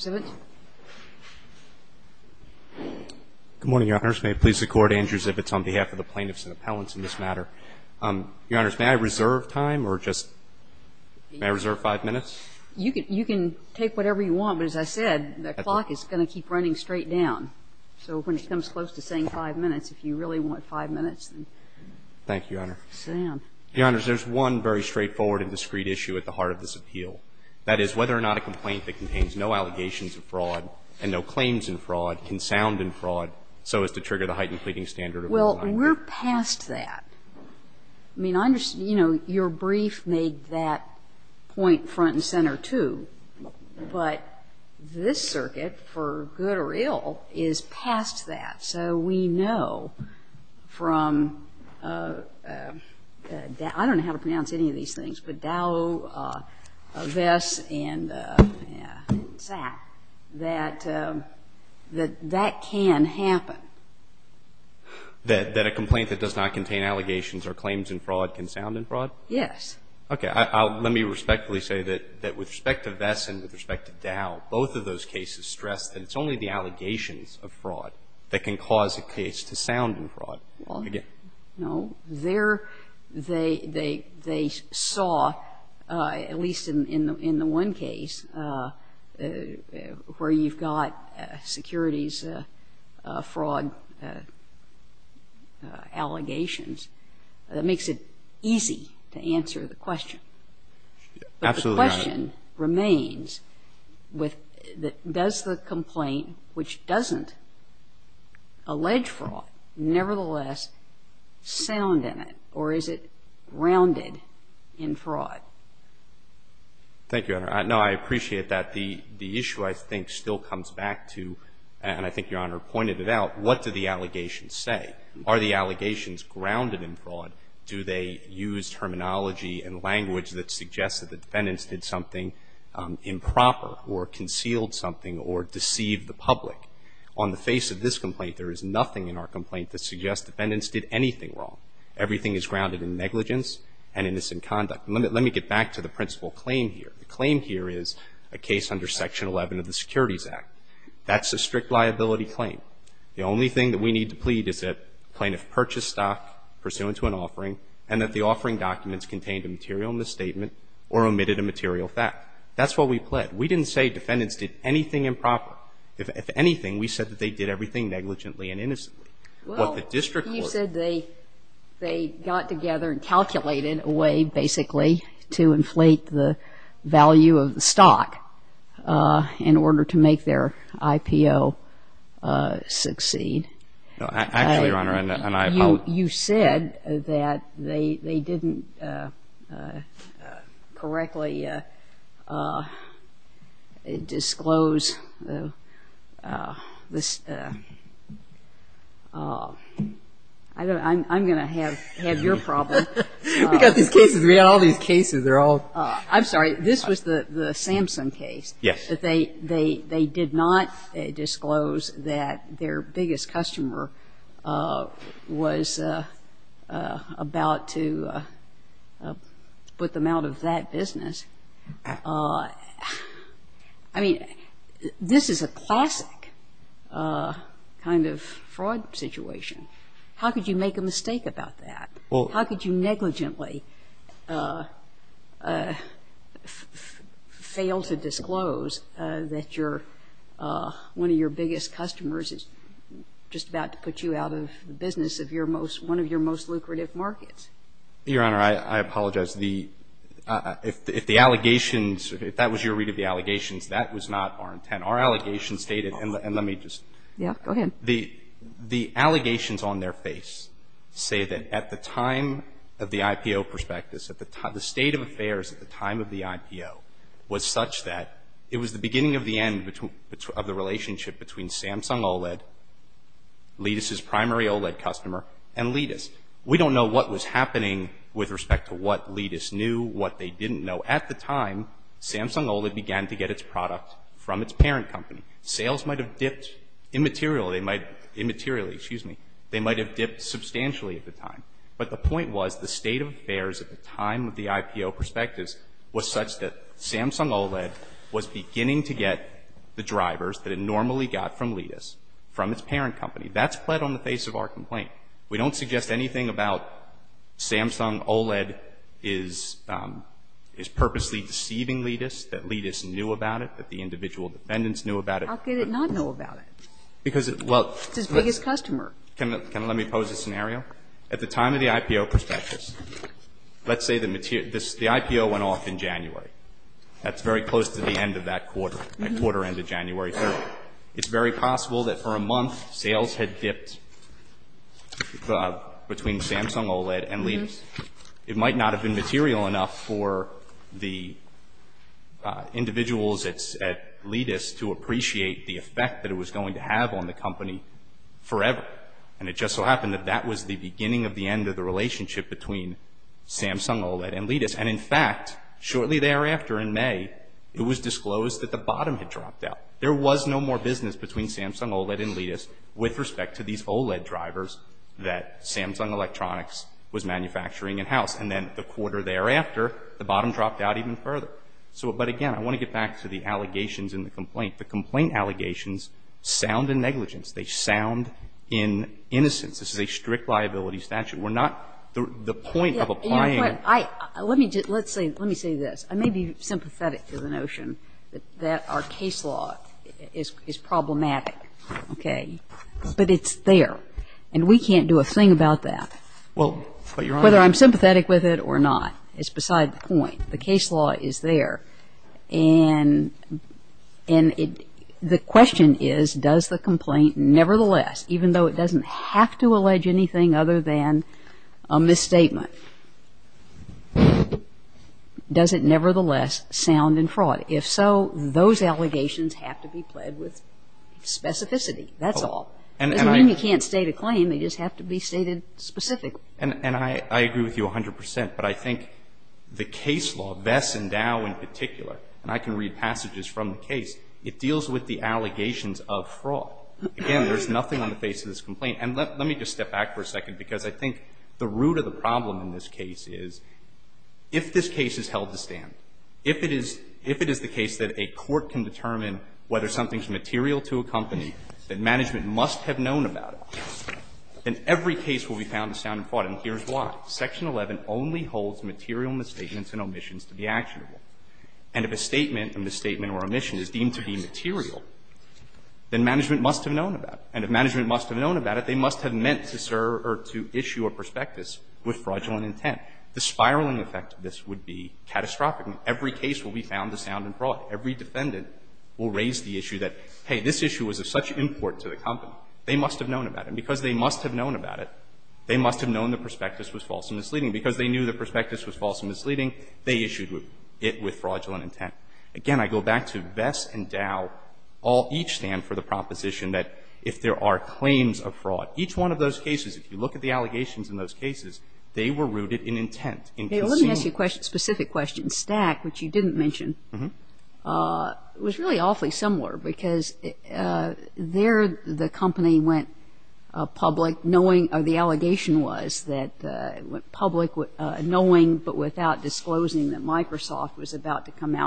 Good morning, Your Honors. May it please the Court, Andrew Zivitz, on behalf of the plaintiffs and appellants in this matter. Your Honors, may I reserve time, or just, may I reserve five minutes? You can take whatever you want, but as I said, the clock is going to keep running straight down. So when it comes close to saying five minutes, if you really want five minutes, then sit down. Thank you, Your Honor. Your Honors, there's one very straightforward and discreet issue at the heart of this appeal. That is whether or not a complaint that contains no allegations of fraud and no claims in fraud can sound in fraud so as to trigger the heightened pleading standard of reliance. Well, we're past that. I mean, I understand, you know, your brief made that point front and center, too. But this circuit, for good or ill, is past that. So we know from, I don't know how to pronounce any of these things, but Dow, Vess, and Zach, that that can happen. That a complaint that does not contain allegations or claims in fraud can sound in fraud? Yes. Okay. Let me respectfully say that with respect to Vess and with respect to Dow, both of those cases stress that it's only the allegations of fraud that can cause a case to sound in fraud. Well, no. There they saw, at least in the one case where you've got securities fraud allegations, that makes it easy to answer the question. Absolutely not. But the question remains, does the complaint which doesn't allege fraud nevertheless sound in it, or is it grounded in fraud? Thank you, Your Honor. No, I appreciate that. The issue, I think, still comes back to, and I think Your Honor pointed it out, what do the allegations say? Are the allegations grounded in fraud? Do they use terminology and language that suggests that the defendants did something improper or concealed something or deceived the public? On the face of this complaint, there is nothing in our complaint that suggests defendants did anything wrong. Everything is grounded in negligence and innocent conduct. Let me get back to the principal claim here. The claim here is a case under Section 11 of the Securities Act. That's a strict liability claim. The only thing that we need to plead is that the plaintiff purchased stock pursuant to an offering and that the offering documents contained a material misstatement or omitted a material fact. That's what we plead. We didn't say defendants did anything improper. If anything, we said that they did everything negligently and innocently. Well, you said they got together and calculated a way, basically, to inflate the value of the stock in order to make their IPO succeed. No, actually, Your Honor, I'm not... You said that they didn't correctly disclose... I'm going to have your problem. We've got these cases. We've got all these cases. They're all... I'm sorry. This was the Samson case. Yes. That they did not disclose that their biggest customer was about to put them out of that business. I mean, this is a classic kind of fraud situation. How could you make a mistake about that? Well... Your Honor, I apologize. If the allegations, if that was your read of the allegations, that was not our intent. Our allegations stated, and let me just... Yes. Go ahead. The allegations on their face say that at the time of the IPO prospectus, at the time of the IPO, was such that it was the beginning of the end of the relationship between Samsung OLED, Ledis' primary OLED customer, and Ledis. We don't know what was happening with respect to what Ledis knew, what they didn't know. At the time, Samsung OLED began to get its product from its parent company. Sales might have dipped immaterially. They might... Immaterially, excuse me. They might have dipped substantially at the time. But the point was, the state of affairs at the time of the IPO prospectus was such that Samsung OLED was beginning to get the drivers that it normally got from Ledis, from its parent company. That's pled on the face of our complaint. We don't suggest anything about Samsung OLED is purposely deceiving Ledis, that Ledis knew about it, that the individual defendants knew about it. How could it not know about it? Because, well... It's its biggest customer. Can let me pose a scenario? At the time of the IPO prospectus, let's say the IPO went off in January. That's very close to the end of that quarter, that quarter end of January 3rd. It's very possible that for a month, sales had dipped between Samsung OLED and Ledis. It might not have been material enough for the individuals at Ledis to appreciate the effect that it was going to have on the company forever. And it just so happened that that was the beginning of the end of the relationship between Samsung OLED and Ledis. And in fact, shortly thereafter in May, it was disclosed that the bottom had dropped out. There was no more business between Samsung OLED and Ledis with respect to these OLED drivers that Samsung Electronics was manufacturing in-house. And then the quarter thereafter, the bottom dropped out even further. So, but again, I want to get back to the allegations in the complaint. The complaint allegations sound in negligence. They sound in innocence. This is a strict liability statute. We're not, the point of applying. I, let me just, let's say, let me say this. I may be sympathetic to the notion that our case law is problematic, okay? But it's there. And we can't do a thing about that. Well, but Your Honor. Whether I'm sympathetic with it or not, it's beside the point. The case law is there. And the question is, does the complaint nevertheless, even though it is nothing other than a misstatement, does it nevertheless sound in fraud? If so, those allegations have to be pled with specificity. That's all. And I It doesn't mean you can't state a claim. They just have to be stated specifically. And I agree with you 100 percent. But I think the case law, Vess and Dow in particular, and I can read passages from the case, it deals with the allegations of fraud. Again, there's nothing on the face of this complaint. And let me just step back for a second, because I think the root of the problem in this case is, if this case is held to stand, if it is, if it is the case that a court can determine whether something's material to a company, that management must have known about it, then every case will be found to sound in fraud. And here's why. Section 11 only holds material misstatements and omissions to be actionable. And if a statement, a misstatement And if management must have known about it, they must have meant to serve or to issue a prospectus with fraudulent intent. The spiraling effect of this would be catastrophic. Every case will be found to sound in fraud. Every defendant will raise the issue that, hey, this issue was of such import to the company. They must have known about it. And because they must have known about it, they must have known the prospectus was false and misleading. Because they knew the prospectus was false and misleading, they issued it with fraudulent intent. Again, I go back to Vess and Dow. All of each of those cases, if you look at the allegations in those cases, they were rooted in intent. Let me ask you a specific question. Stack, which you didn't mention, was really awfully similar, because there the company went public knowing, or the allegation was that it went public knowing but without disclosing that Microsoft was about to come in.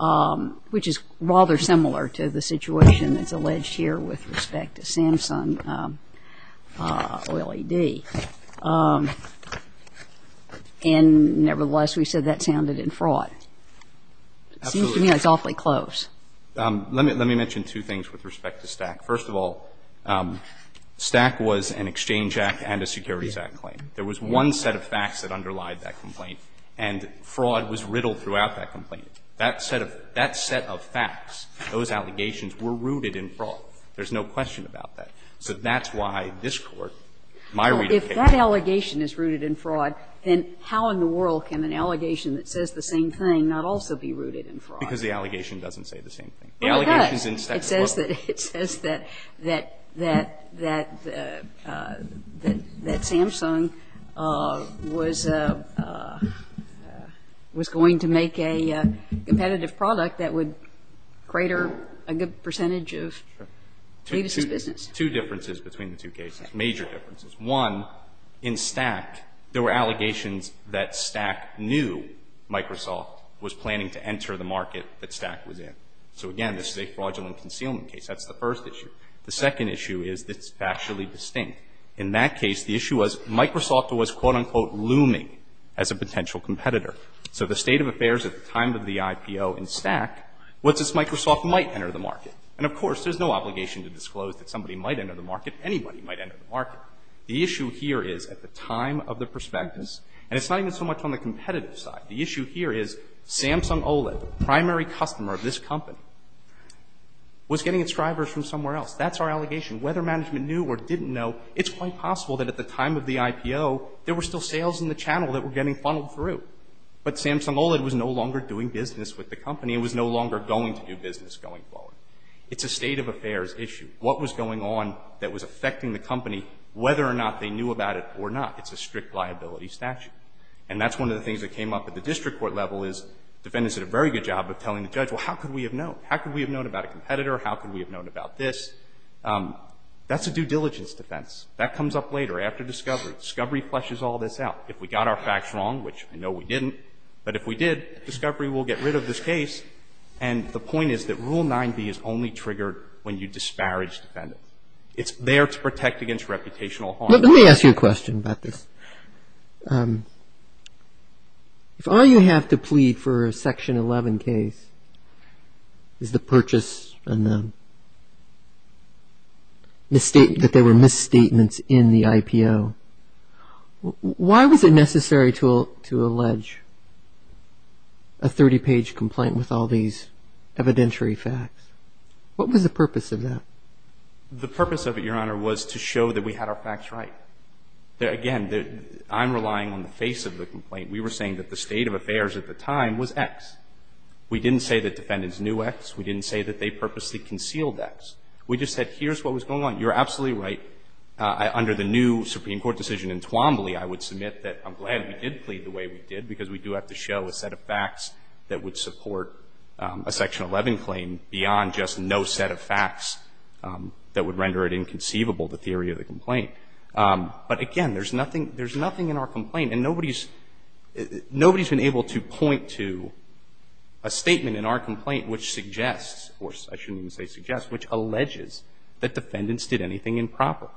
And it was rather similar to the situation that's alleged here with respect to Samsung Oil AD. And nevertheless, we said that sounded in fraud. It seems to me like it's awfully close. Let me mention two things with respect to Stack. First of all, Stack was an Exchange Act and a Securities Act claim. There was one set of facts that underlied that complaint, and fraud was riddled throughout that complaint. That set of facts, those allegations were rooted in fraud. There's no question about that. So that's why this Court, my reading of it can't say that. If that allegation is rooted in fraud, then how in the world can an allegation that says the same thing not also be rooted in fraud? Because the allegation doesn't say the same thing. The allegation is in Stack as well. It says that Samsung was going to make a competitive product that would crater a good percentage of Davis' business. Two differences between the two cases, major differences. One, in Stack, there were allegations that Stack knew Microsoft was planning to enter the market that Stack was interested in. So again, this is a fraudulent concealment case. That's the first issue. The second issue is that it's factually distinct. In that case, the issue was Microsoft was, quote, unquote, looming as a potential competitor. So the state of affairs at the time of the IPO in Stack was that Microsoft might enter the market. And of course, there's no obligation to disclose that somebody might enter the market, anybody might enter the market. The issue here is at the time of the prospectus, and it's not even so much on the company, was getting its drivers from somewhere else. That's our allegation. Whether management knew or didn't know, it's quite possible that at the time of the IPO, there were still sales in the channel that were getting funneled through. But Samsung OLED was no longer doing business with the company. It was no longer going to do business going forward. It's a state of affairs issue. What was going on that was affecting the company, whether or not they knew about it or not, it's a strict liability statute. And that's one of the things that came up at the district court level is defendants did a very good job of telling the judge, well, how could we have known? How could we have known about a competitor? How could we have known about this? That's a due diligence defense. That comes up later, after discovery. Discovery fleshes all this out. If we got our facts wrong, which I know we didn't, but if we did, discovery will get rid of this case. And the point is that Rule 9b is only triggered when you disparage defendants. It's there to protect against reputational harm. Let me ask you a question about this. If all you have to plead for a Section 11 case is the purchase and that there were misstatements in the IPO, why was it necessary to allege a 30-page complaint with all these evidentiary facts? What was the purpose of that? The purpose of it, Your Honor, was to show that we had our facts right. Again, I'm relying on the face of the complaint. We were saying that the state of affairs at the time was X. We didn't say that defendants knew X. We didn't say that they purposely concealed X. We just said, here's what was going on. You're absolutely right. Under the new Supreme Court decision in Twombly, I would submit that I'm glad we did plead the way we did, because we do have to show a set of facts that would support a Section 11 claim beyond just no set of facts that would render it inconceivable, the theory of the complaint. But again, there's nothing — there's nothing in our complaint, and nobody's — nobody's been able to point to a statement in our complaint which suggests, or I shouldn't even say suggests, which alleges that defendants did anything improper.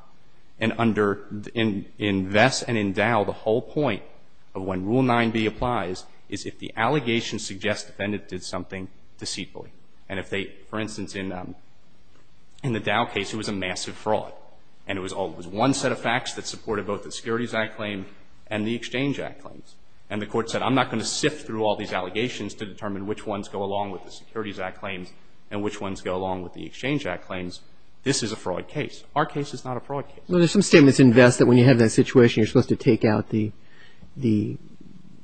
And under — in Vess and in Dow, the whole point of when Rule 9b applies is if the allegation suggests the defendant did something deceitfully. And if they — for instance, in the Dow case, it was a massive fraud. And it was one set of facts that supported both the Securities Act claim and the Exchange Act claims. And the Court said, I'm not going to sift through all these allegations to determine which ones go along with the Securities Act claims and which ones go along with the Exchange Act claims. This is a fraud case. Our case is not a fraud case. Well, there's some statements in Vess that when you have that situation, you're supposed to take out the — the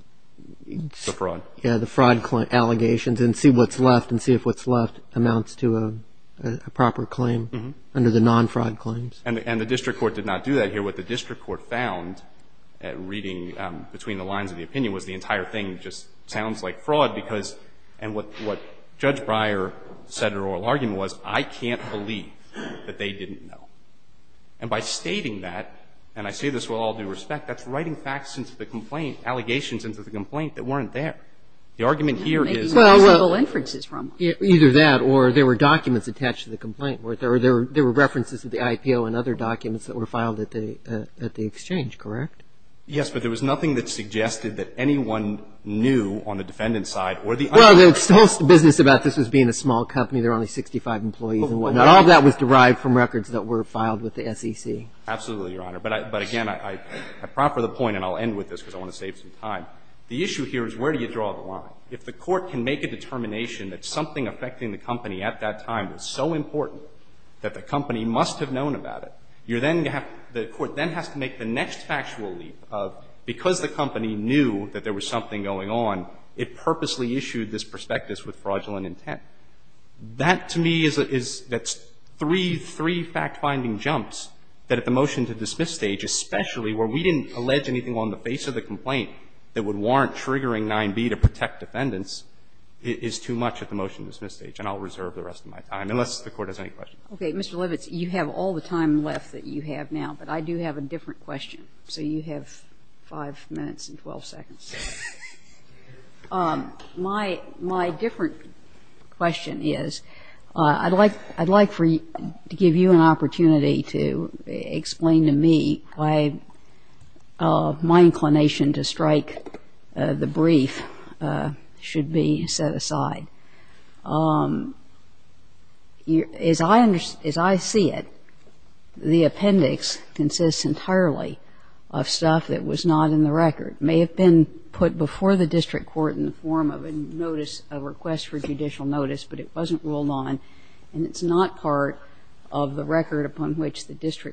— The fraud. Yeah, the fraud allegations and see what's left and see if what's left amounts to a proper claim under the non-fraud claims. And the — and the district court did not do that here. What the district court found, reading between the lines of the opinion, was the entire thing just sounds like fraud because — and what — what Judge Breyer said in her oral argument was, I can't believe that they didn't know. And by stating that, and I say this with all due respect, that's writing facts into the complaint — allegations into the complaint that weren't there. The argument here is — Well, well — Maybe you used the references from it. Either that, or there were documents attached to the complaint, or there were references to the IPO and other documents that were filed at the — at the exchange, correct? Yes, but there was nothing that suggested that anyone knew on the defendant's side or the — Well, the whole business about this was being a small company. There were only 65 employees and whatnot. All of that was derived from records that were filed with the SEC. Absolutely, Your Honor. But I — but again, I proffer the point, and I'll end with this because I want to save some time. The issue here is where do you draw the line? If the court can make a determination that something affecting the company at that time was so important that the company must have known about it, you're then — the court then has to make the next factual leap of, because the company knew that there was something going on, it purposely issued this prospectus with fraudulent intent. That, to me, is — is — that's three — three fact-finding jumps that at the motion to dismiss stage, especially where we didn't allege anything on the face of the complaint that would warrant triggering 9b to protect defendants, is too much at the motion to dismiss stage. And I'll reserve the rest of my time, unless the Court has any questions. Okay. Mr. Levitz, you have all the time left that you have now, but I do have a different question. So you have 5 minutes and 12 seconds. My — my different question is, I'd like — I'd like for you — to give you an opportunity to explain to me why my inclination to strike the brief should be set aside. As I — as I see it, the appendix consists entirely of stuff that was not in the record. May have been put before the district court in the form of a notice — a request for which the district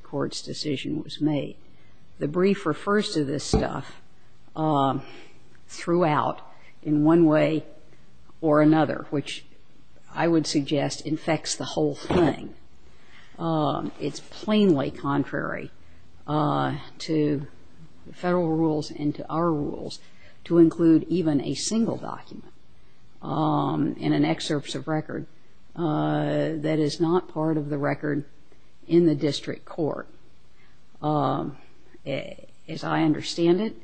court's decision was made. The brief refers to this stuff throughout in one way or another, which I would suggest infects the whole thing. It's plainly contrary to the federal rules and to our rules to include even a single document in an excerpts of record that is not part of the record in the district court As I understand it,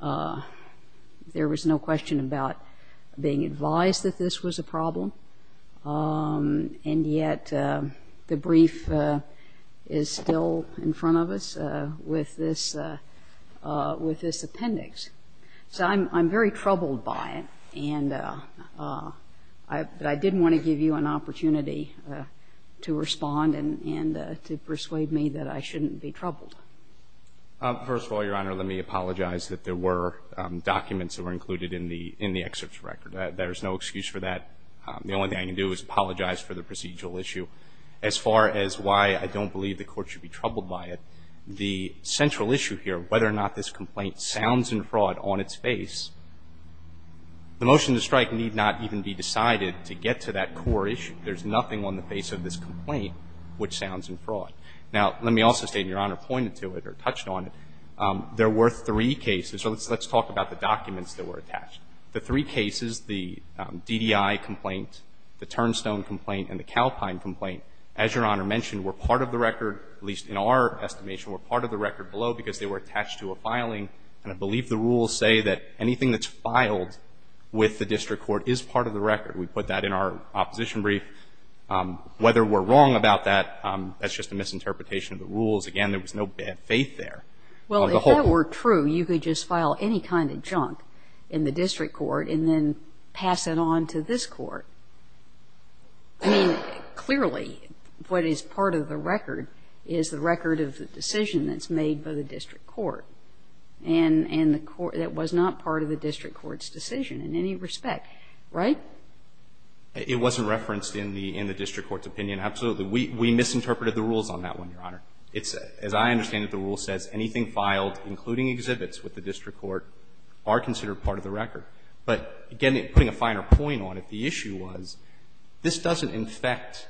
there was no question about being advised that this was a problem, and yet the brief is still in front of us with this — with this appendix. So I'm — I'm very troubled by it, and I — but I did want to give you an opportunity to respond and — and to persuade me that I shouldn't be troubled. First of all, Your Honor, let me apologize that there were documents that were included in the — in the excerpts of record. There's no excuse for that. The only thing I can do is apologize for the procedural issue. As far as why I don't believe the Court should be troubled by it, the central issue here, whether or not this complaint sounds in fraud on its face, the motion to strike need not even be decided to get to that core issue. There's nothing on the face of this complaint which sounds in fraud. Now, let me also state, and Your Honor pointed to it or touched on it, there were three cases — so let's talk about the documents that were attached. The three cases, the DDI complaint, the Turnstone complaint, and the Calpine complaint, as Your Honor mentioned, were part of the record, at least in our estimation, were part of the record below because they were attached to a filing, and I believe the rules say that anything that's filed with the district court is part of the record. We put that in our opposition brief. Whether we're wrong about that, that's just a misinterpretation of the rules. Again, there was no bad faith there. Well, if that were true, you could just file any kind of junk in the district court and then pass it on to this court. I mean, clearly, what is part of the record is the record of the decision that's made by the district court, and the court — that was not part of the district court's decision in any respect, right? It wasn't referenced in the — in the district court's opinion, absolutely. We misinterpreted the rules on that one, Your Honor. It's — as I understand it, the rule says anything filed, including exhibits with the district court, are considered part of the record. But, again, putting a finer point on it, the issue was this doesn't infect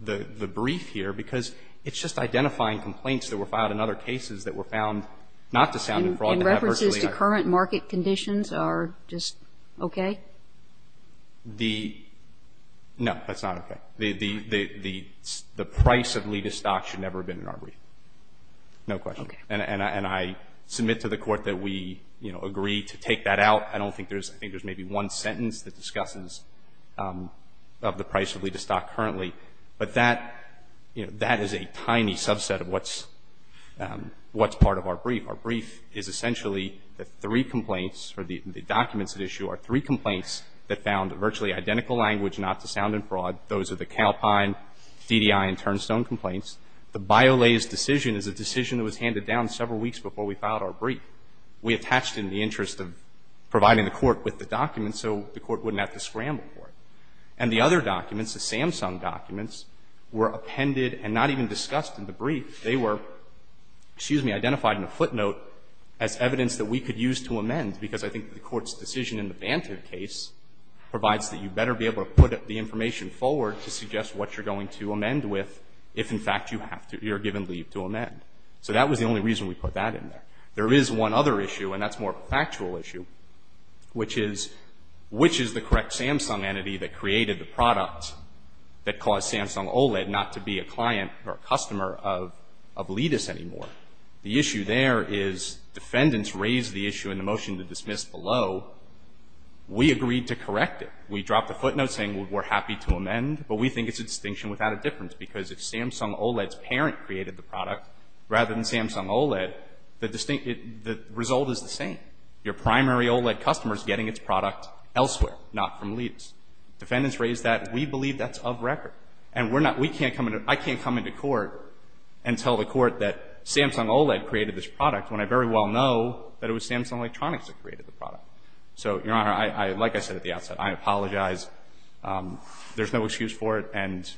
the — the brief here because it's just identifying complaints that were filed in other cases that were found not to sound in fraud to have virtually no effect. And references to current market conditions are just okay? The — no, that's not okay. The — the — the price of Leda stocks should never have been in our brief. No question. Okay. And — and I — and I submit to the court that we, you know, agree to take that out. I don't think there's — I think there's maybe one sentence that discusses of the price of Leda stock currently. But that — you know, that is a tiny subset of what's — what's part of our brief. Our brief is essentially the three complaints, or the — the documents at issue are three complaints that found virtually identical language not to sound in fraud. Those are the Calpine, DDI, and Turnstone complaints. The Biolase decision is a decision that was handed down several weeks before we filed our brief. We attached it in the interest of providing the court with the documents so the court wouldn't have to scramble for it. And the other documents, the Samsung documents, were appended and not even discussed in the brief. They were, excuse me, identified in a footnote as evidence that we could use to amend because I think the court's decision in the Bantive case provides that you better be able to put the information forward to suggest what you're going to amend with if, in fact, you have to — you're given leave to amend. So that was the only reason we put that in there. There is one other issue, and that's more of a factual issue, which is — which is the correct Samsung entity that created the product that caused Samsung OLED not to be a client or a customer of — of Ledis anymore. The issue there is defendants raised the issue in the motion to dismiss below. We agreed to correct it. We dropped a footnote saying we're happy to amend, but we think it's a distinction without a difference because if Samsung OLED's parent created the product rather than Samsung OLED, the — the result is the same. Your primary OLED customer is getting its product elsewhere, not from Ledis. Defendants raised that. We believe that's of record. And we're not — we can't come into — I can't come into court and tell the court that Samsung OLED created this product when I very well know that it was Samsung Electronics that created the product. So, Your Honor, I — like I said at the outset, I apologize. There's no excuse for it, and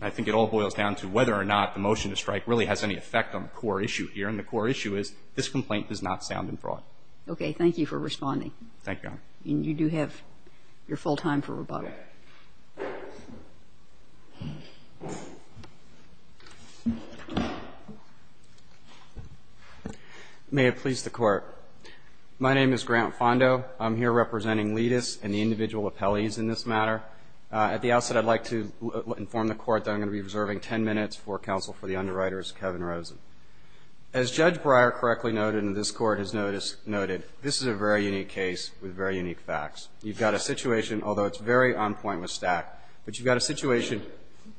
I think it all boils down to whether or not the motion to strike really has any effect on the core issue here, and the core issue is this complaint does not sound in fraud. Okay. Thank you for responding. Thank you, Your Honor. And you do have your full time for rebuttal. Okay. May it please the Court. My name is Grant Fondo. I'm here representing Ledis and the individual appellees in this matter. At the outset, I'd like to inform the Court that I'm going to be reserving 10 minutes for counsel for the underwriter, Kevin Rosen. As Judge Breyer correctly noted and this Court has noted, this is a very unique case with very unique facts. You've got a situation, although it's very on point with Stack, but you've got a situation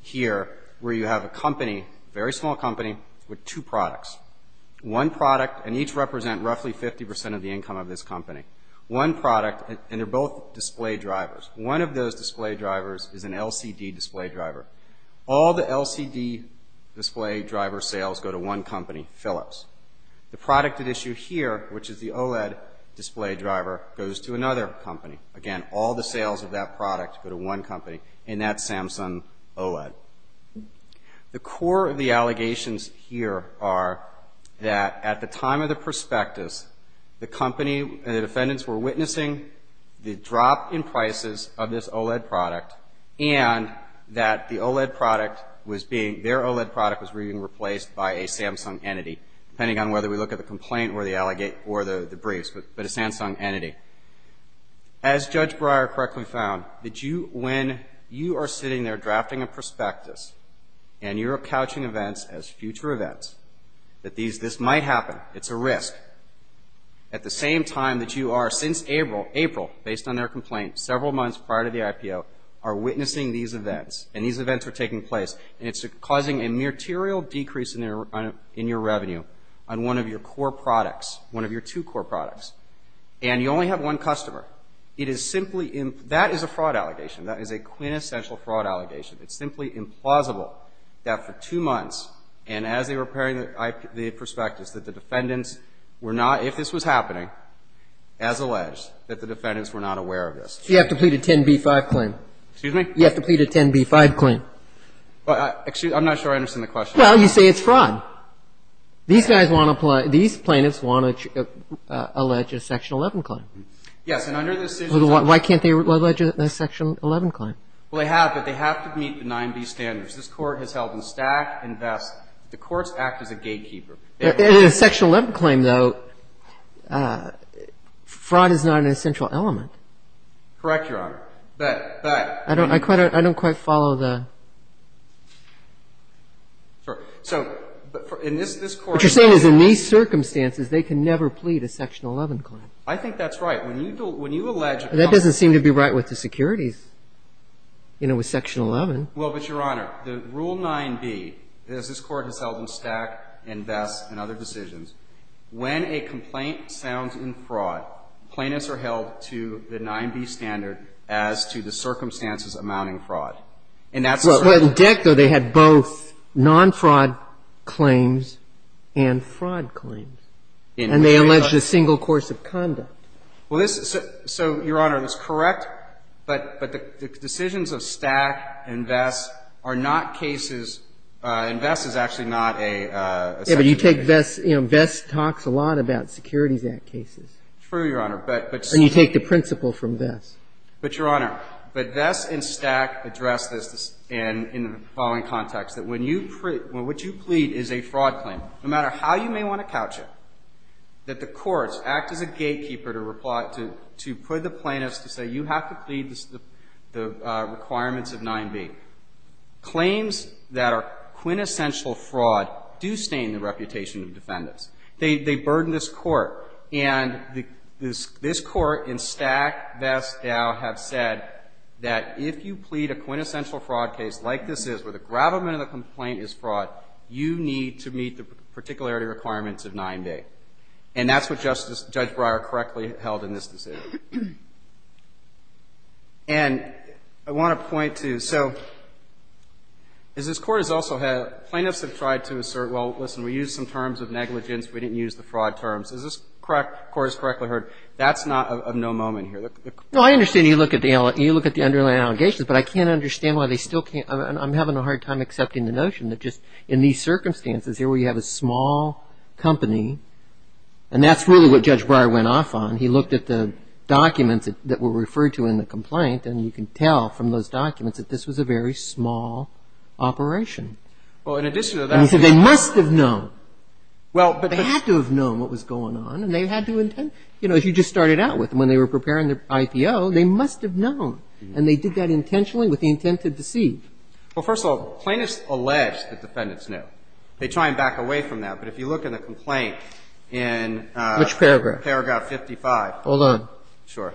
here where you have a company, very small company, with two products. One product, and each represent roughly 50% of the income of this company. One product, and they're both display drivers. One of those display drivers is an LCD display driver. The product at issue here, which is the OLED display driver, goes to another company. Again, all the sales of that product go to one company, and that's Samsung OLED. The core of the allegations here are that at the time of the prospectus, the company and the defendants were witnessing the drop in prices of this OLED product and that the OLED product was being, their OLED product was being replaced by a Samsung entity, depending on whether we look at the complaint or the briefs, but a Samsung entity. As Judge Breyer correctly found, when you are sitting there drafting a prospectus and you're couching events as future events, that this might happen, it's a risk. At the same time that you are, since April, based on their complaint, several months prior to the IPO, are witnessing these events, and these events are taking place, and it's causing a material decrease in your revenue on one of your core products, one of your two core products, and you only have one customer. It is simply, that is a fraud allegation. That is a quintessential fraud allegation. It's simply implausible that for two months, and as they were preparing the prospectus, that the defendants were not, if this was happening, as alleged, that the defendants were not aware of this. You have to plead a 10b-5 claim. Excuse me? You have to plead a 10b-5 claim. Excuse me? I'm not sure I understand the question. Well, you say it's fraud. These guys want to, these plaintiffs want to allege a Section 11 claim. Yes, and under the decision of the court. Why can't they allege a Section 11 claim? Well, they have, but they have to meet the 9b standards. This Court has held in stack and vest that the courts act as a gatekeeper. In a Section 11 claim, though, fraud is not an essential element. Correct, Your Honor. But, but. I don't quite follow the. Sorry. So, in this Court. What you're saying is in these circumstances, they can never plead a Section 11 claim. I think that's right. When you allege. That doesn't seem to be right with the securities, you know, with Section 11. Well, but, Your Honor, the rule 9b, as this Court has held in stack and vest and other decisions, when a complaint sounds in fraud, plaintiffs are held to the 9b standard as to the circumstances amounting fraud. And that's. Well, in Dick, though, they had both non-fraud claims and fraud claims. And they alleged a single course of conduct. Well, this. So, Your Honor, that's correct. But the decisions of stack and vest are not cases. And vest is actually not a. Yeah, but you take vest. You know, vest talks a lot about Securities Act cases. True, Your Honor. But. And you take the principle from vest. But, Your Honor. But vest and stack address this in the following context. That when you. What you plead is a fraud claim. No matter how you may want to couch it. That the courts act as a gatekeeper to put the plaintiffs to say you have to plead the requirements of 9b. Claims that are quintessential fraud do stain the reputation of defendants. They burden this Court. And this Court in stack, vest, Dow have said that if you plead a quintessential fraud case like this is, where the gravamen of the complaint is fraud, you need to meet the particularity requirements of 9b. And that's what Justice. Judge Breyer correctly held in this decision. And I want to point to. So, as this Court has also had. Plaintiffs have tried to assert, well, listen, we used some terms of negligence. We didn't use the fraud terms. As this Court has correctly heard, that's not of no moment here. No, I understand you look at the underlying allegations. But I can't understand why they still can't. I'm having a hard time accepting the notion that just in these circumstances here where you have a small company. And that's really what Judge Breyer went off on. He looked at the documents that were referred to in the complaint. And you can tell from those documents that this was a very small operation. Well, in addition to that. And he said they must have known. Well, but. They had to have known what was going on. And they had to. You know, as you just started out with. When they were preparing the IPO, they must have known. And they did that intentionally with the intent to deceive. Well, first of all, plaintiffs allege that defendants knew. They try and back away from that. But if you look in the complaint in. Which paragraph? Paragraph 55. Hold on. Sure.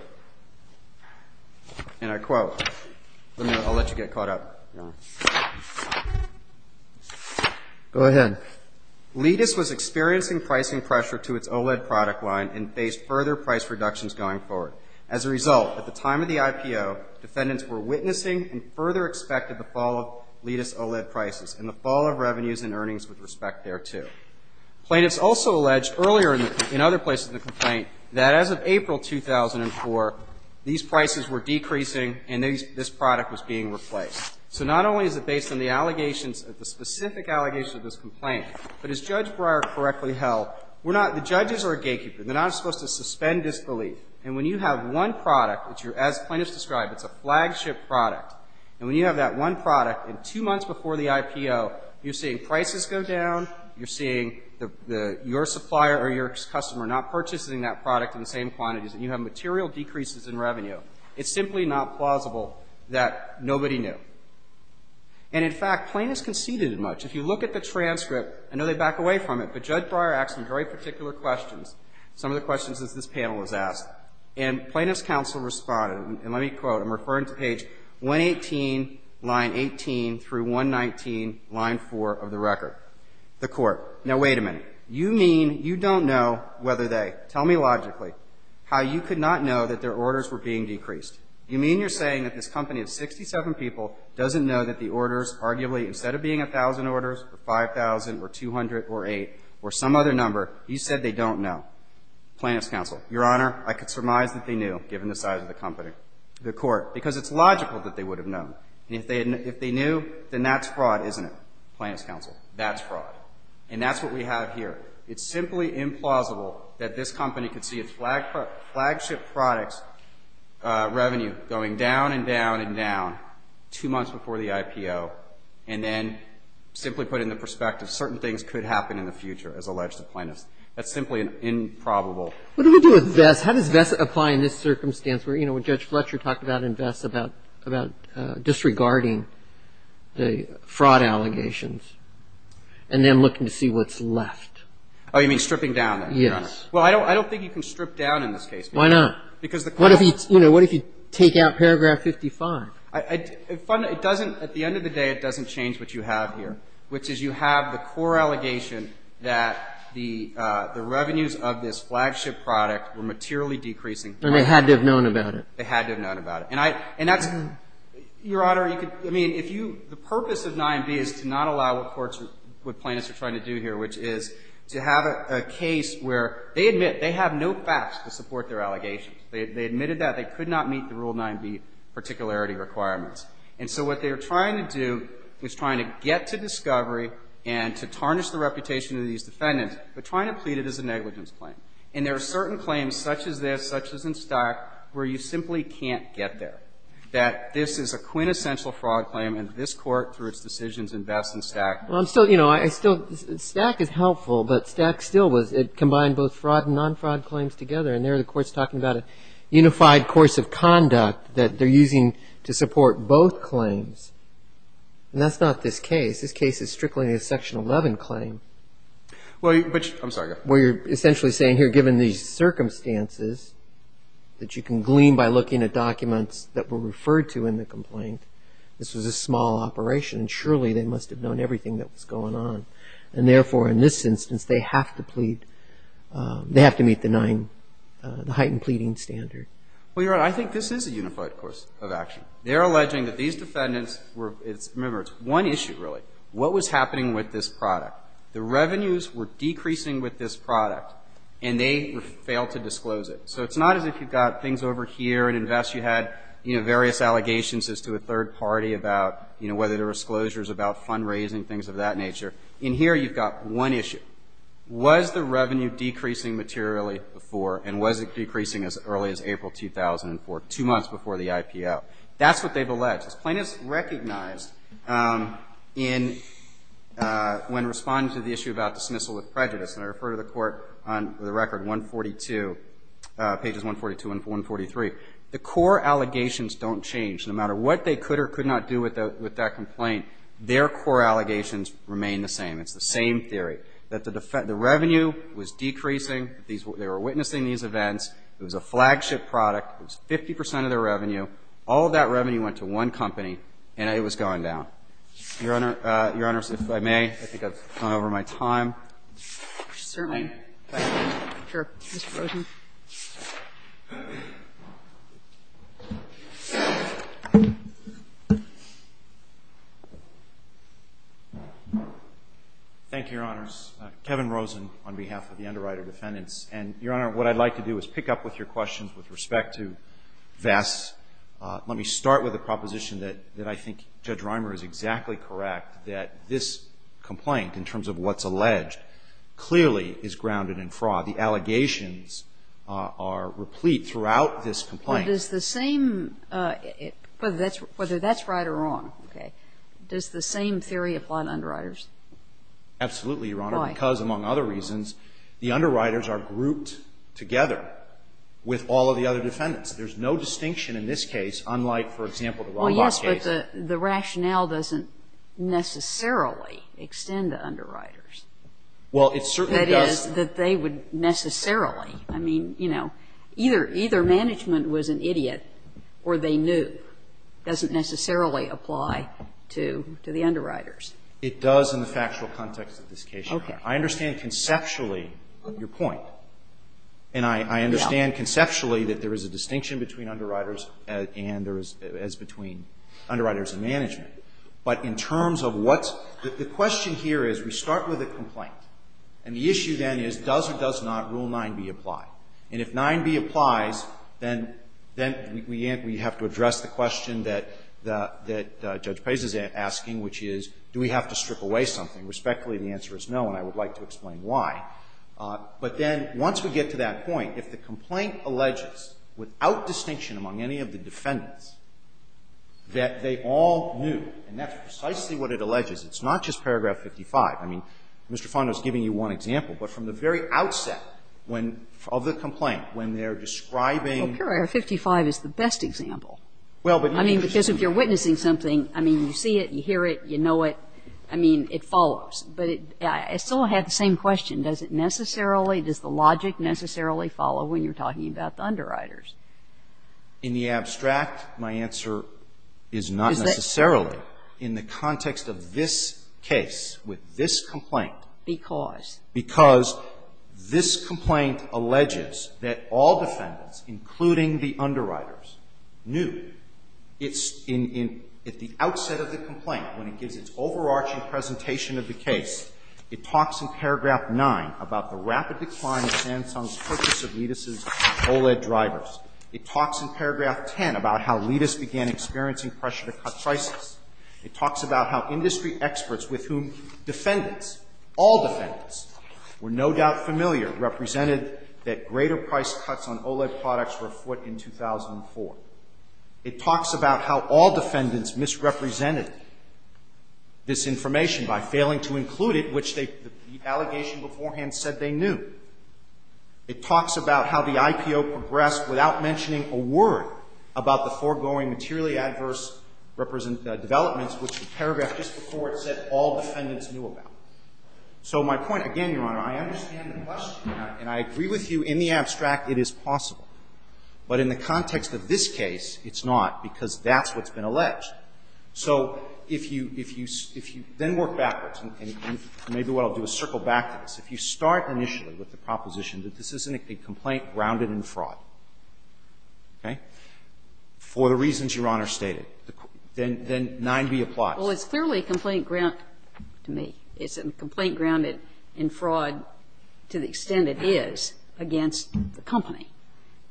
And I quote. I'll let you get caught up. Go ahead. Letus was experiencing pricing pressure to its OLED product line and faced further price reductions going forward. As a result, at the time of the IPO, defendants were witnessing and further expected the fall of Letus OLED prices and the fall of revenues and earnings with respect thereto. Plaintiffs also alleged earlier in other places in the complaint that as of April 2004, these prices were decreasing and this product was being replaced. So not only is it based on the allegations, the specific allegations of this complaint, but as Judge Breyer correctly held, we're not. The judges are a gatekeeper. They're not supposed to suspend disbelief. And when you have one product, as plaintiffs described, it's a flagship product. And when you have that one product and two months before the IPO, you're seeing prices go down. You're seeing your supplier or your customer not purchasing that product in the same quantities. And you have material decreases in revenue. It's simply not plausible that nobody knew. And, in fact, plaintiffs conceded much. If you look at the transcript, I know they back away from it, but Judge Breyer asked some very particular questions, some of the questions that this panel has asked. And plaintiffs' counsel responded, and let me quote, I'm referring to page 118, line 18 through 119, line 4 of the record. The court, now, wait a minute. You mean you don't know whether they, tell me logically, how you could not know that their orders were being decreased. You mean you're saying that this company of 67 people doesn't know that the orders, arguably, instead of being 1,000 orders or 5,000 or 200 or 8 or some other number, you said they don't know. Plaintiffs' counsel, Your Honor, I could surmise that they knew, given the size of the company. The court, because it's logical that they would have known. And if they knew, then that's fraud, isn't it? Plaintiffs' counsel, that's fraud. And that's what we have here. It's simply implausible that this company could see a flagship product's revenue going down and down and down two months before the IPO and then simply put it in perspective. Certain things could happen in the future, as alleged to plaintiffs. That's simply an improbable. What do we do with Vest? How does Vest apply in this circumstance where, you know, when Judge Fletcher talked about it in Vest, about disregarding the fraud allegations and then looking to see what's left? Oh, you mean stripping down, then, Your Honor? Yes. Well, I don't think you can strip down in this case. Why not? Because the question is you know, what if you take out paragraph 55? It doesn't, at the end of the day, it doesn't change what you have here, which is you have the core allegation that the revenues of this flagship product were materially decreasing. And they had to have known about it. They had to have known about it. And that's, Your Honor, you could, I mean, if you, the purpose of 9B is to not allow what courts, what plaintiffs are trying to do here, which is to have a case where they admit they have no facts to support their allegations. They admitted that they could not meet the Rule 9B particularity requirements. And so what they are trying to do is trying to get to discovery and to tarnish the reputation of these defendants, but trying to plead it as a negligence claim. And there are certain claims, such as this, such as in Stack, where you simply can't get there, that this is a quintessential fraud claim and this Court, through its decisions, invests in Stack. Well, I'm still, you know, I still, Stack is helpful, but Stack still was. It combined both fraud and non-fraud claims together. And there the Court's talking about a unified course of conduct that they're using to support both claims. And that's not this case. This case is strictly a Section 11 claim. Well, you, which, I'm sorry. Where you're essentially saying here, given these circumstances, that you can glean by looking at documents that were referred to in the complaint, this was a small operation, and surely they must have known everything that was going on. And therefore, in this instance, they have to plead, they have to meet the 9, the heightened pleading standard. Well, Your Honor, I think this is a unified course of action. They're alleging that these defendants were, it's, remember, it's one issue, really. What was happening with this product? The revenues were decreasing with this product, and they failed to disclose it. So it's not as if you've got things over here and invest, you had, you know, various allegations as to a third party about, you know, whether there were disclosures about fundraising, things of that nature. In here, you've got one issue. Was the revenue decreasing materially before, and was it decreasing as early as April 2004, two months before the IPO? That's what they've alleged. This plaintiff's recognized in, when responding to the issue about dismissal with prejudice, and I refer to the court on the record 142, pages 142 and 143. The core allegations don't change. No matter what they could or could not do with that complaint, their core allegations remain the same. It's the same theory, that the revenue was decreasing, they were witnessing these events. It was a flagship product. It was 50 percent of their revenue. All of that revenue went to one company, and it was going down. Your Honor, if I may, I think I've gone over my time. Certainly. Thank you. Sure. Mr. Rosen. Thank you, Your Honors. Kevin Rosen on behalf of the Underwriter Defendants. And, Your Honor, what I'd like to do is pick up with your questions with respect to Vess. Let me start with a proposition that I think Judge Reimer is exactly correct, that this complaint, in terms of what's alleged, clearly is grounded in fraud. The allegations are replete throughout this complaint. Well, does the same, whether that's right or wrong, okay, does the same theory apply to underwriters? Absolutely, Your Honor. Why? Because, among other reasons, the underwriters are grouped together with all of the other defendants. There's no distinction in this case, unlike, for example, the Roblox case. Well, yes, but the rationale doesn't necessarily extend to underwriters. Well, it certainly does. That is, that they would necessarily. I mean, you know, either management was an idiot or they knew. It doesn't necessarily apply to the underwriters. It does in the factual context of this case, Your Honor. Okay. I understand conceptually your point. And I understand conceptually that there is a distinction between underwriters and there is between underwriters and management. But in terms of what's the question here is, we start with a complaint. And the issue then is, does or does not Rule 9b apply? And if 9b applies, then we have to address the question that Judge Pez is asking, which is, do we have to strip away something? And respectfully, the answer is no, and I would like to explain why. But then, once we get to that point, if the complaint alleges, without distinction among any of the defendants, that they all knew, and that's precisely what it alleges, it's not just paragraph 55. I mean, Mr. Fondo is giving you one example, but from the very outset when the complaint, when they're describing ---- Well, paragraph 55 is the best example. Well, but ---- I mean, because if you're witnessing something, I mean, you see it, you hear it, you know, it follows. But I still have the same question. Does it necessarily, does the logic necessarily follow when you're talking about the underwriters? In the abstract, my answer is not necessarily. Is that ---- In the context of this case, with this complaint ---- Because? Because this complaint alleges that all defendants, including the underwriters, knew. It's in, at the outset of the complaint, when it gives its overarching presentation of the case, it talks in paragraph 9 about the rapid decline of Sanson's purchase of Leedis' OLED drivers. It talks in paragraph 10 about how Leedis began experiencing pressure to cut prices. It talks about how industry experts with whom defendants, all defendants, were no doubt familiar, represented that greater price cuts on OLED products were afoot in 2004. It talks about how all defendants misrepresented this information by failing to include it, which the allegation beforehand said they knew. It talks about how the IPO progressed without mentioning a word about the foregoing materially adverse developments, which the paragraph just before it said all defendants knew about. So my point, again, Your Honor, I understand the question, and I agree with you. In the abstract, it is possible. But in the context of this case, it's not, because that's what's been alleged. So if you then work backwards, and maybe what I'll do is circle back to this. If you start initially with the proposition that this isn't a complaint grounded in fraud, okay, for the reasons Your Honor stated, then 9b applies. Well, it's clearly a complaint grounded to me. It's a complaint grounded in fraud to the extent it is against the company.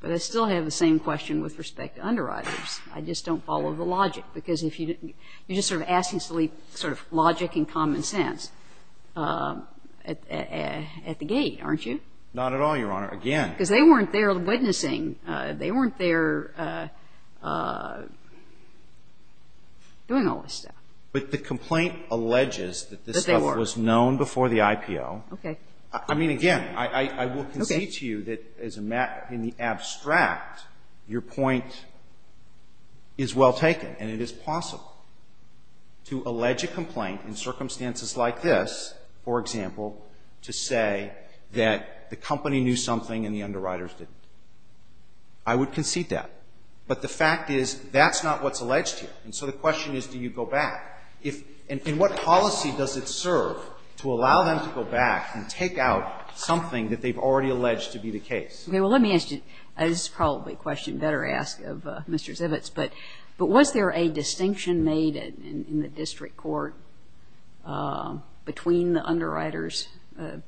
But I still have the same question with respect to underwriters. I just don't follow the logic, because you're just sort of asking sort of logic and common sense at the gate, aren't you? Not at all, Your Honor. Again. Because they weren't there witnessing. They weren't there doing all this stuff. But the complaint alleges that this stuff was known before the IPO. Okay. I mean, again, I will concede to you that in the abstract, your point is well taken. And it is possible to allege a complaint in circumstances like this, for example, to say that the company knew something and the underwriters didn't. I would concede that. But the fact is, that's not what's alleged here. And so the question is, do you go back? And what policy does it serve to allow them to go back and take out something that they've already alleged to be the case? Okay. Well, let me ask you. This is probably a question you better ask of Mr. Zivitz. But was there a distinction made in the district court between the underwriters'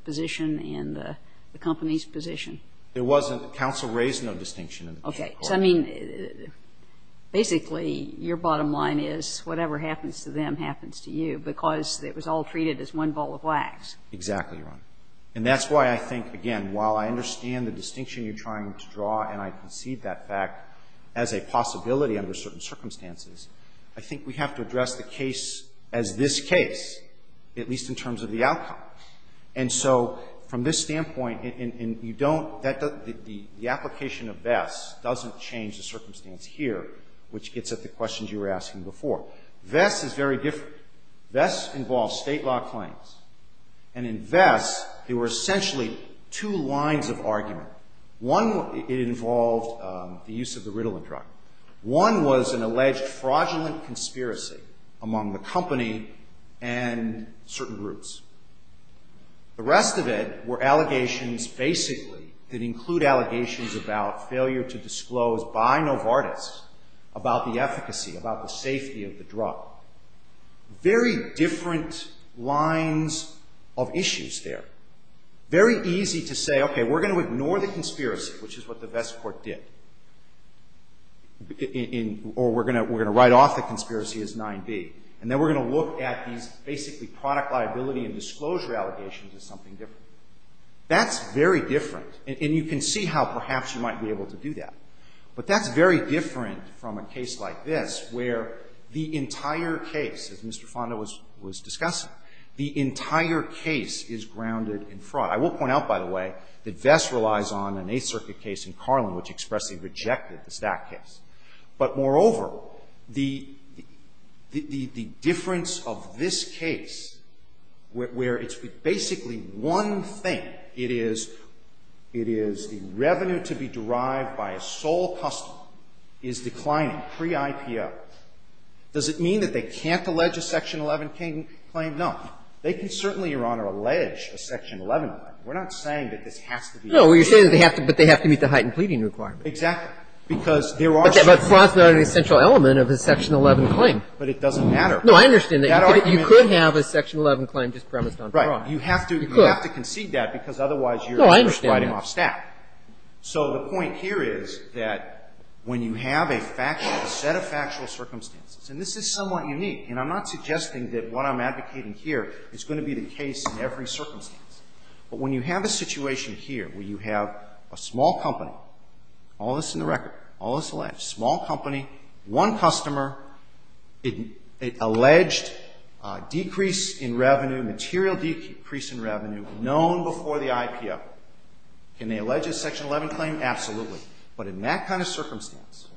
position and the company's position? There wasn't. Counsel raised no distinction in the district court. Okay. I mean, basically, your bottom line is whatever happens to them happens to you because it was all treated as one ball of wax. Exactly, Your Honor. And that's why I think, again, while I understand the distinction you're trying to draw and I concede that fact as a possibility under certain circumstances, I think we have to address the case as this case, at least in terms of the outcome. And so from this standpoint, you don't the application of VESS doesn't change the circumstance here, which gets at the questions you were asking before. VESS is very different. VESS involves state law claims. And in VESS, there were essentially two lines of argument. One, it involved the use of the Ritalin drug. One was an alleged fraudulent conspiracy among the company and certain groups. The rest of it were allegations, basically, that include allegations about failure to disclose by Novartis about the efficacy, about the safety of the drug. Very different lines of issues there. Very easy to say, okay, we're going to ignore the conspiracy, which is what the VESS court did, or we're going to write off the conspiracy as 9B. And then we're going to look at these, basically, product liability and disclosure allegations as something different. That's very different. And you can see how perhaps you might be able to do that. But that's very different from a case like this, where the entire case, as Mr. Fonda was discussing, the entire case is grounded in fraud. I will point out, by the way, that VESS relies on an Eighth Circuit case in Carlin, which expressly rejected the Stack case. But, moreover, the difference of this case, where it's basically one thing. It is the revenue to be derived by a sole customer is declining pre-IPO. Does it mean that they can't allege a Section 11 claim? No. They can certainly, Your Honor, allege a Section 11 claim. We're not saying that this has to be true. No, you're saying that they have to meet the heightened pleading requirement. Exactly. Because there are certain things. But fraud is not an essential element of a Section 11 claim. But it doesn't matter. No, I understand that. You could have a Section 11 claim just premised on fraud. Right. You have to concede that, because otherwise you're sliding off Stack. No, I understand that. So the point here is that when you have a factual, a set of factual circumstances and this is somewhat unique, and I'm not suggesting that what I'm advocating here is going to be the case in every circumstance. But when you have a situation here where you have a small company, all this in the record, all this alleged. Small company, one customer, alleged decrease in revenue, material decrease in revenue known before the IPO. Can they allege a Section 11 claim? Absolutely. But in that kind of circumstance,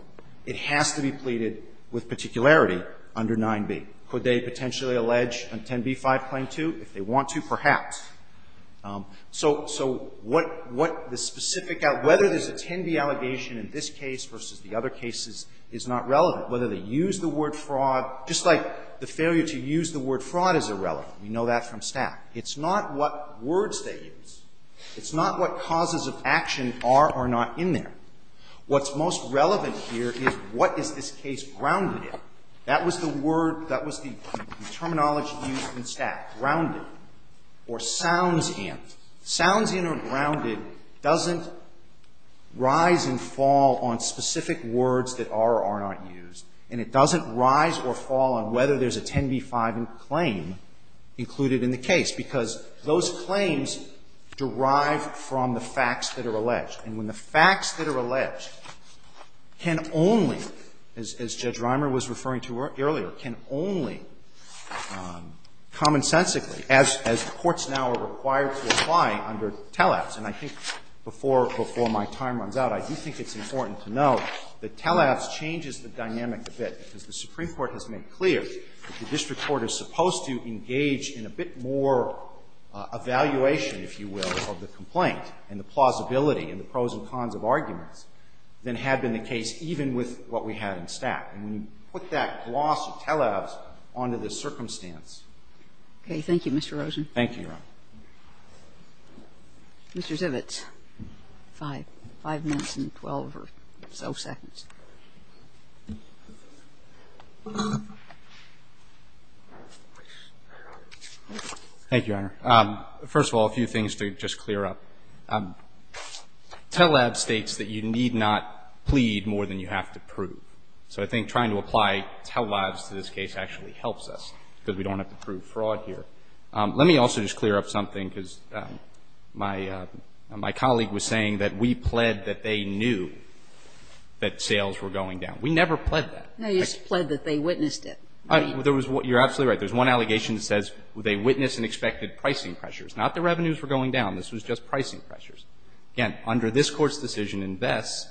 it has to be pleaded with particularity under 9b. Could they potentially allege a 10b-5 claim too? If they want to, perhaps. So, so what, what the specific, whether there's a 10b allegation in this case versus the other cases is not relevant. Whether they use the word fraud, just like the failure to use the word fraud is irrelevant. We know that from Stack. It's not what words they use. It's not what causes of action are or not in there. What's most relevant here is what is this case grounded in? That was the word, that was the terminology used in Stack. Grounded. Or sounds in. Sounds in or grounded doesn't rise and fall on specific words that are or are not used. And it doesn't rise or fall on whether there's a 10b-5 claim included in the case. Because those claims derive from the facts that are alleged. And when the facts that are alleged can only, as Judge Reimer was referring to earlier, can only commonsensically, as, as courts now are required to apply under tele-abs. And I think before, before my time runs out, I do think it's important to note that tele-abs changes the dynamic a bit. Because the Supreme Court has made clear that the district court is supposed to engage in a bit more evaluation, if you will, of the complaint and the plausibility and the pros and cons of arguments than had been the case even with what we had in Stack. And you put that gloss of tele-abs onto the circumstance. Okay. Thank you, Mr. Rosen. Thank you, Your Honor. Mr. Zivitz. Five. Five minutes and 12 or so seconds. Thank you, Your Honor. First of all, a few things to just clear up. Tele-abs states that you need not plead more than you have to prove. So I think trying to apply tele-abs to this case actually helps us, because we don't have to prove fraud here. Let me also just clear up something, because my colleague was saying that we pled that they knew that sales were going down. We never pled that. No, you just pled that they witnessed it. You're absolutely right. There's one allegation that says they witnessed and expected pricing pressures. Not that revenues were going down. This was just pricing pressures. Again, under this Court's decision in Vess,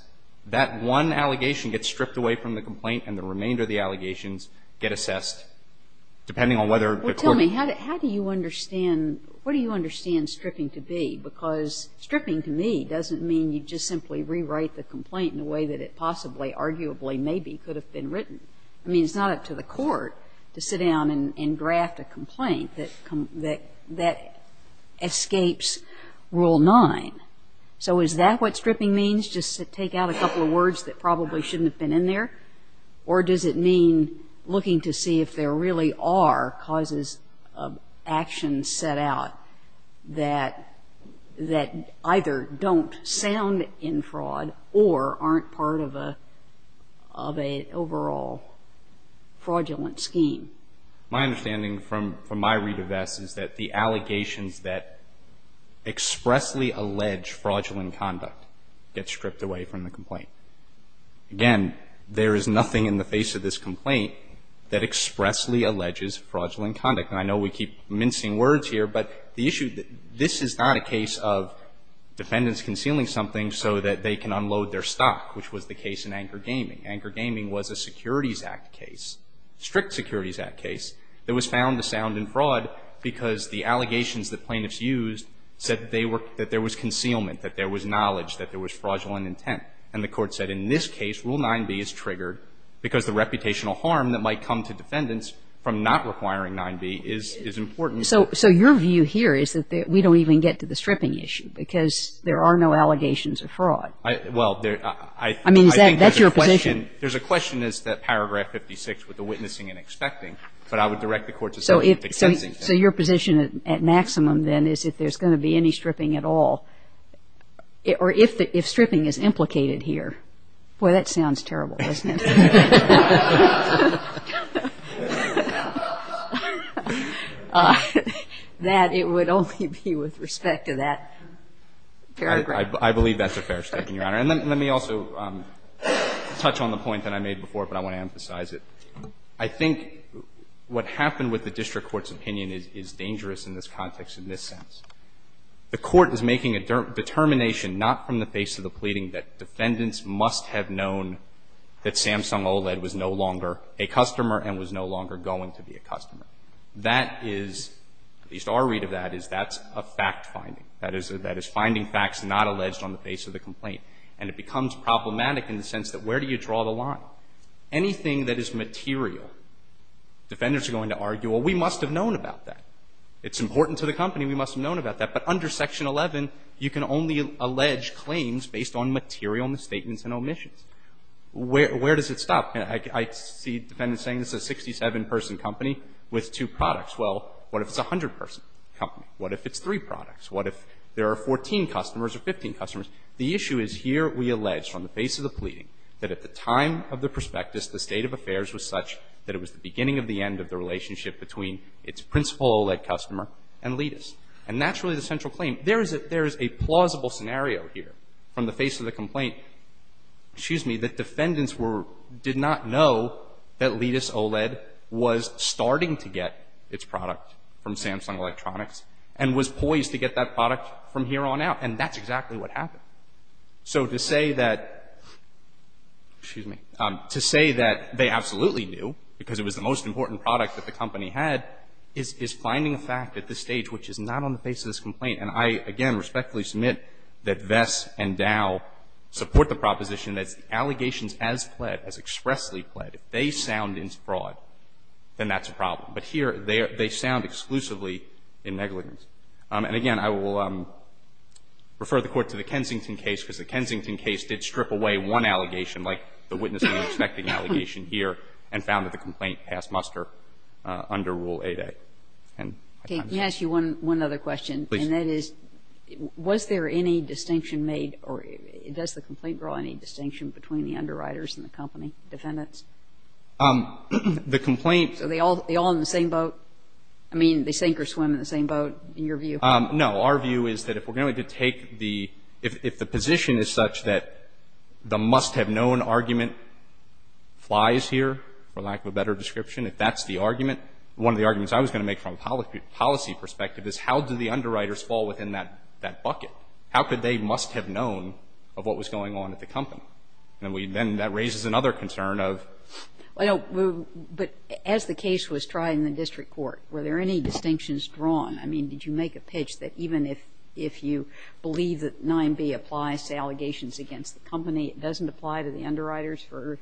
that one allegation gets stripped away from the complaint, and the remainder of the allegations get assessed, depending on whether the court ---- Well, tell me, how do you understand, what do you understand stripping to be? Because stripping to me doesn't mean you just simply rewrite the complaint in a way that it possibly, arguably, maybe could have been written. I mean, it's not up to the court to sit down and draft a complaint that escapes Rule 9. So is that what stripping means, just to take out a couple of words that probably shouldn't have been in there? Or does it mean looking to see if there really are causes of action set out that either don't sound in fraud or aren't part of an overall fraudulent scheme? My understanding from my read of Vess is that the allegations that expressly allege fraudulent conduct get stripped away from the complaint. Again, there is nothing in the face of this complaint that expressly alleges fraudulent conduct. And I know we keep mincing words here, but the issue ---- this is not a case of defendants concealing something so that they can unload their stock, which was the case in Anchor Gaming. Anchor Gaming was a Securities Act case, strict Securities Act case, that was found to sound in fraud because the allegations that plaintiffs used said that they were ---- that there was concealment, that there was knowledge, that there was fraudulent intent. And the Court said in this case, Rule 9b is triggered because the reputational harm that might come to defendants from not requiring 9b is important. So your view here is that we don't even get to the stripping issue because there are no allegations of fraud. Well, I think that the question ---- There's a question as to Paragraph 56 with the witnessing and expecting, but I would direct the Court to say the extensing thing. So your position at maximum, then, is if there's going to be any stripping at all, or if stripping is implicated here. Boy, that sounds terrible, doesn't it? That it would only be with respect to that paragraph. I believe that's a fair statement, Your Honor. And let me also touch on the point that I made before, but I want to emphasize it. I think what happened with the district court's opinion is dangerous in this context in this sense. The Court is making a determination not from the face of the pleading that defendants must have known that Samsung OLED was no longer a customer and was no longer going to be a customer. That is, at least our read of that, is that's a fact-finding. That is finding facts not alleged on the face of the complaint. And it becomes problematic in the sense that where do you draw the line? Anything that is material, defenders are going to argue, well, we must have known about that. It's important to the company. We must have known about that. But under Section 11, you can only allege claims based on material misstatements and omissions. Where does it stop? I see defendants saying it's a 67-person company with two products. Well, what if it's a 100-person company? What if it's three products? What if there are 14 customers or 15 customers? The issue is here we allege from the face of the pleading that at the time of the prospectus, the state of affairs was such that it was the beginning of the end of the relationship between its principal OLED customer and Ledis. And that's really the central claim. There is a plausible scenario here from the face of the complaint that defendants did not know that Ledis OLED was starting to get its product from Samsung Electronics and was poised to get that product from here on out. And that's exactly what happened. So to say that they absolutely knew, because it was the most important product that the company had, is finding a fact at this stage which is not on the face of this complaint. And I, again, respectfully submit that Vess and Dow support the proposition that it's the allegations as pled, as expressly pled. If they sound in fraud, then that's a problem. But here they sound exclusively in negligence. And, again, I will refer the Court to the Kensington case, because the Kensington case did strip away one allegation, like the witnessing and expecting allegation here, and found that the complaint passed muster under Rule 8A. And my time is up. Okay. Can I ask you one other question? Please. And that is, was there any distinction made or does the complaint draw any distinction between the underwriters and the company defendants? The complaint Are they all in the same boat? I mean, they sink or swim in the same boat, in your view? No. Our view is that if we're going to take the – if the position is such that the must-have-known argument flies here, for lack of a better description, if that's the argument, one of the arguments I was going to make from a policy perspective is how do the underwriters fall within that bucket? How could they must have known of what was going on at the company? And then that raises another concern of – Well, but as the case was tried in the district court, were there any distinctions drawn? I mean, did you make a pitch that even if you believe that 9B applies to allegations against the company, it doesn't apply to the underwriters for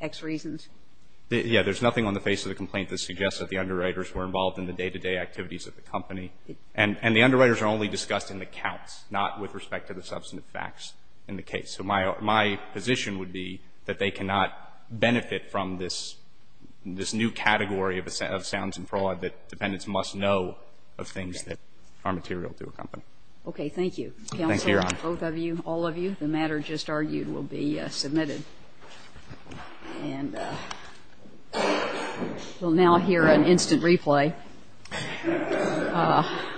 X reasons? Yeah. There's nothing on the face of the complaint that suggests that the underwriters were involved in the day-to-day activities at the company. And the underwriters are only discussed in the counts, not with respect to the substantive facts in the case. So my position would be that they cannot benefit from this new category of sounds and fraud that dependents must know of things that are material to a company. Okay. Thank you, counsel. Thank you, Your Honor. Both of you, all of you, the matter just argued will be submitted. And we'll now hear an instant replay. Ah.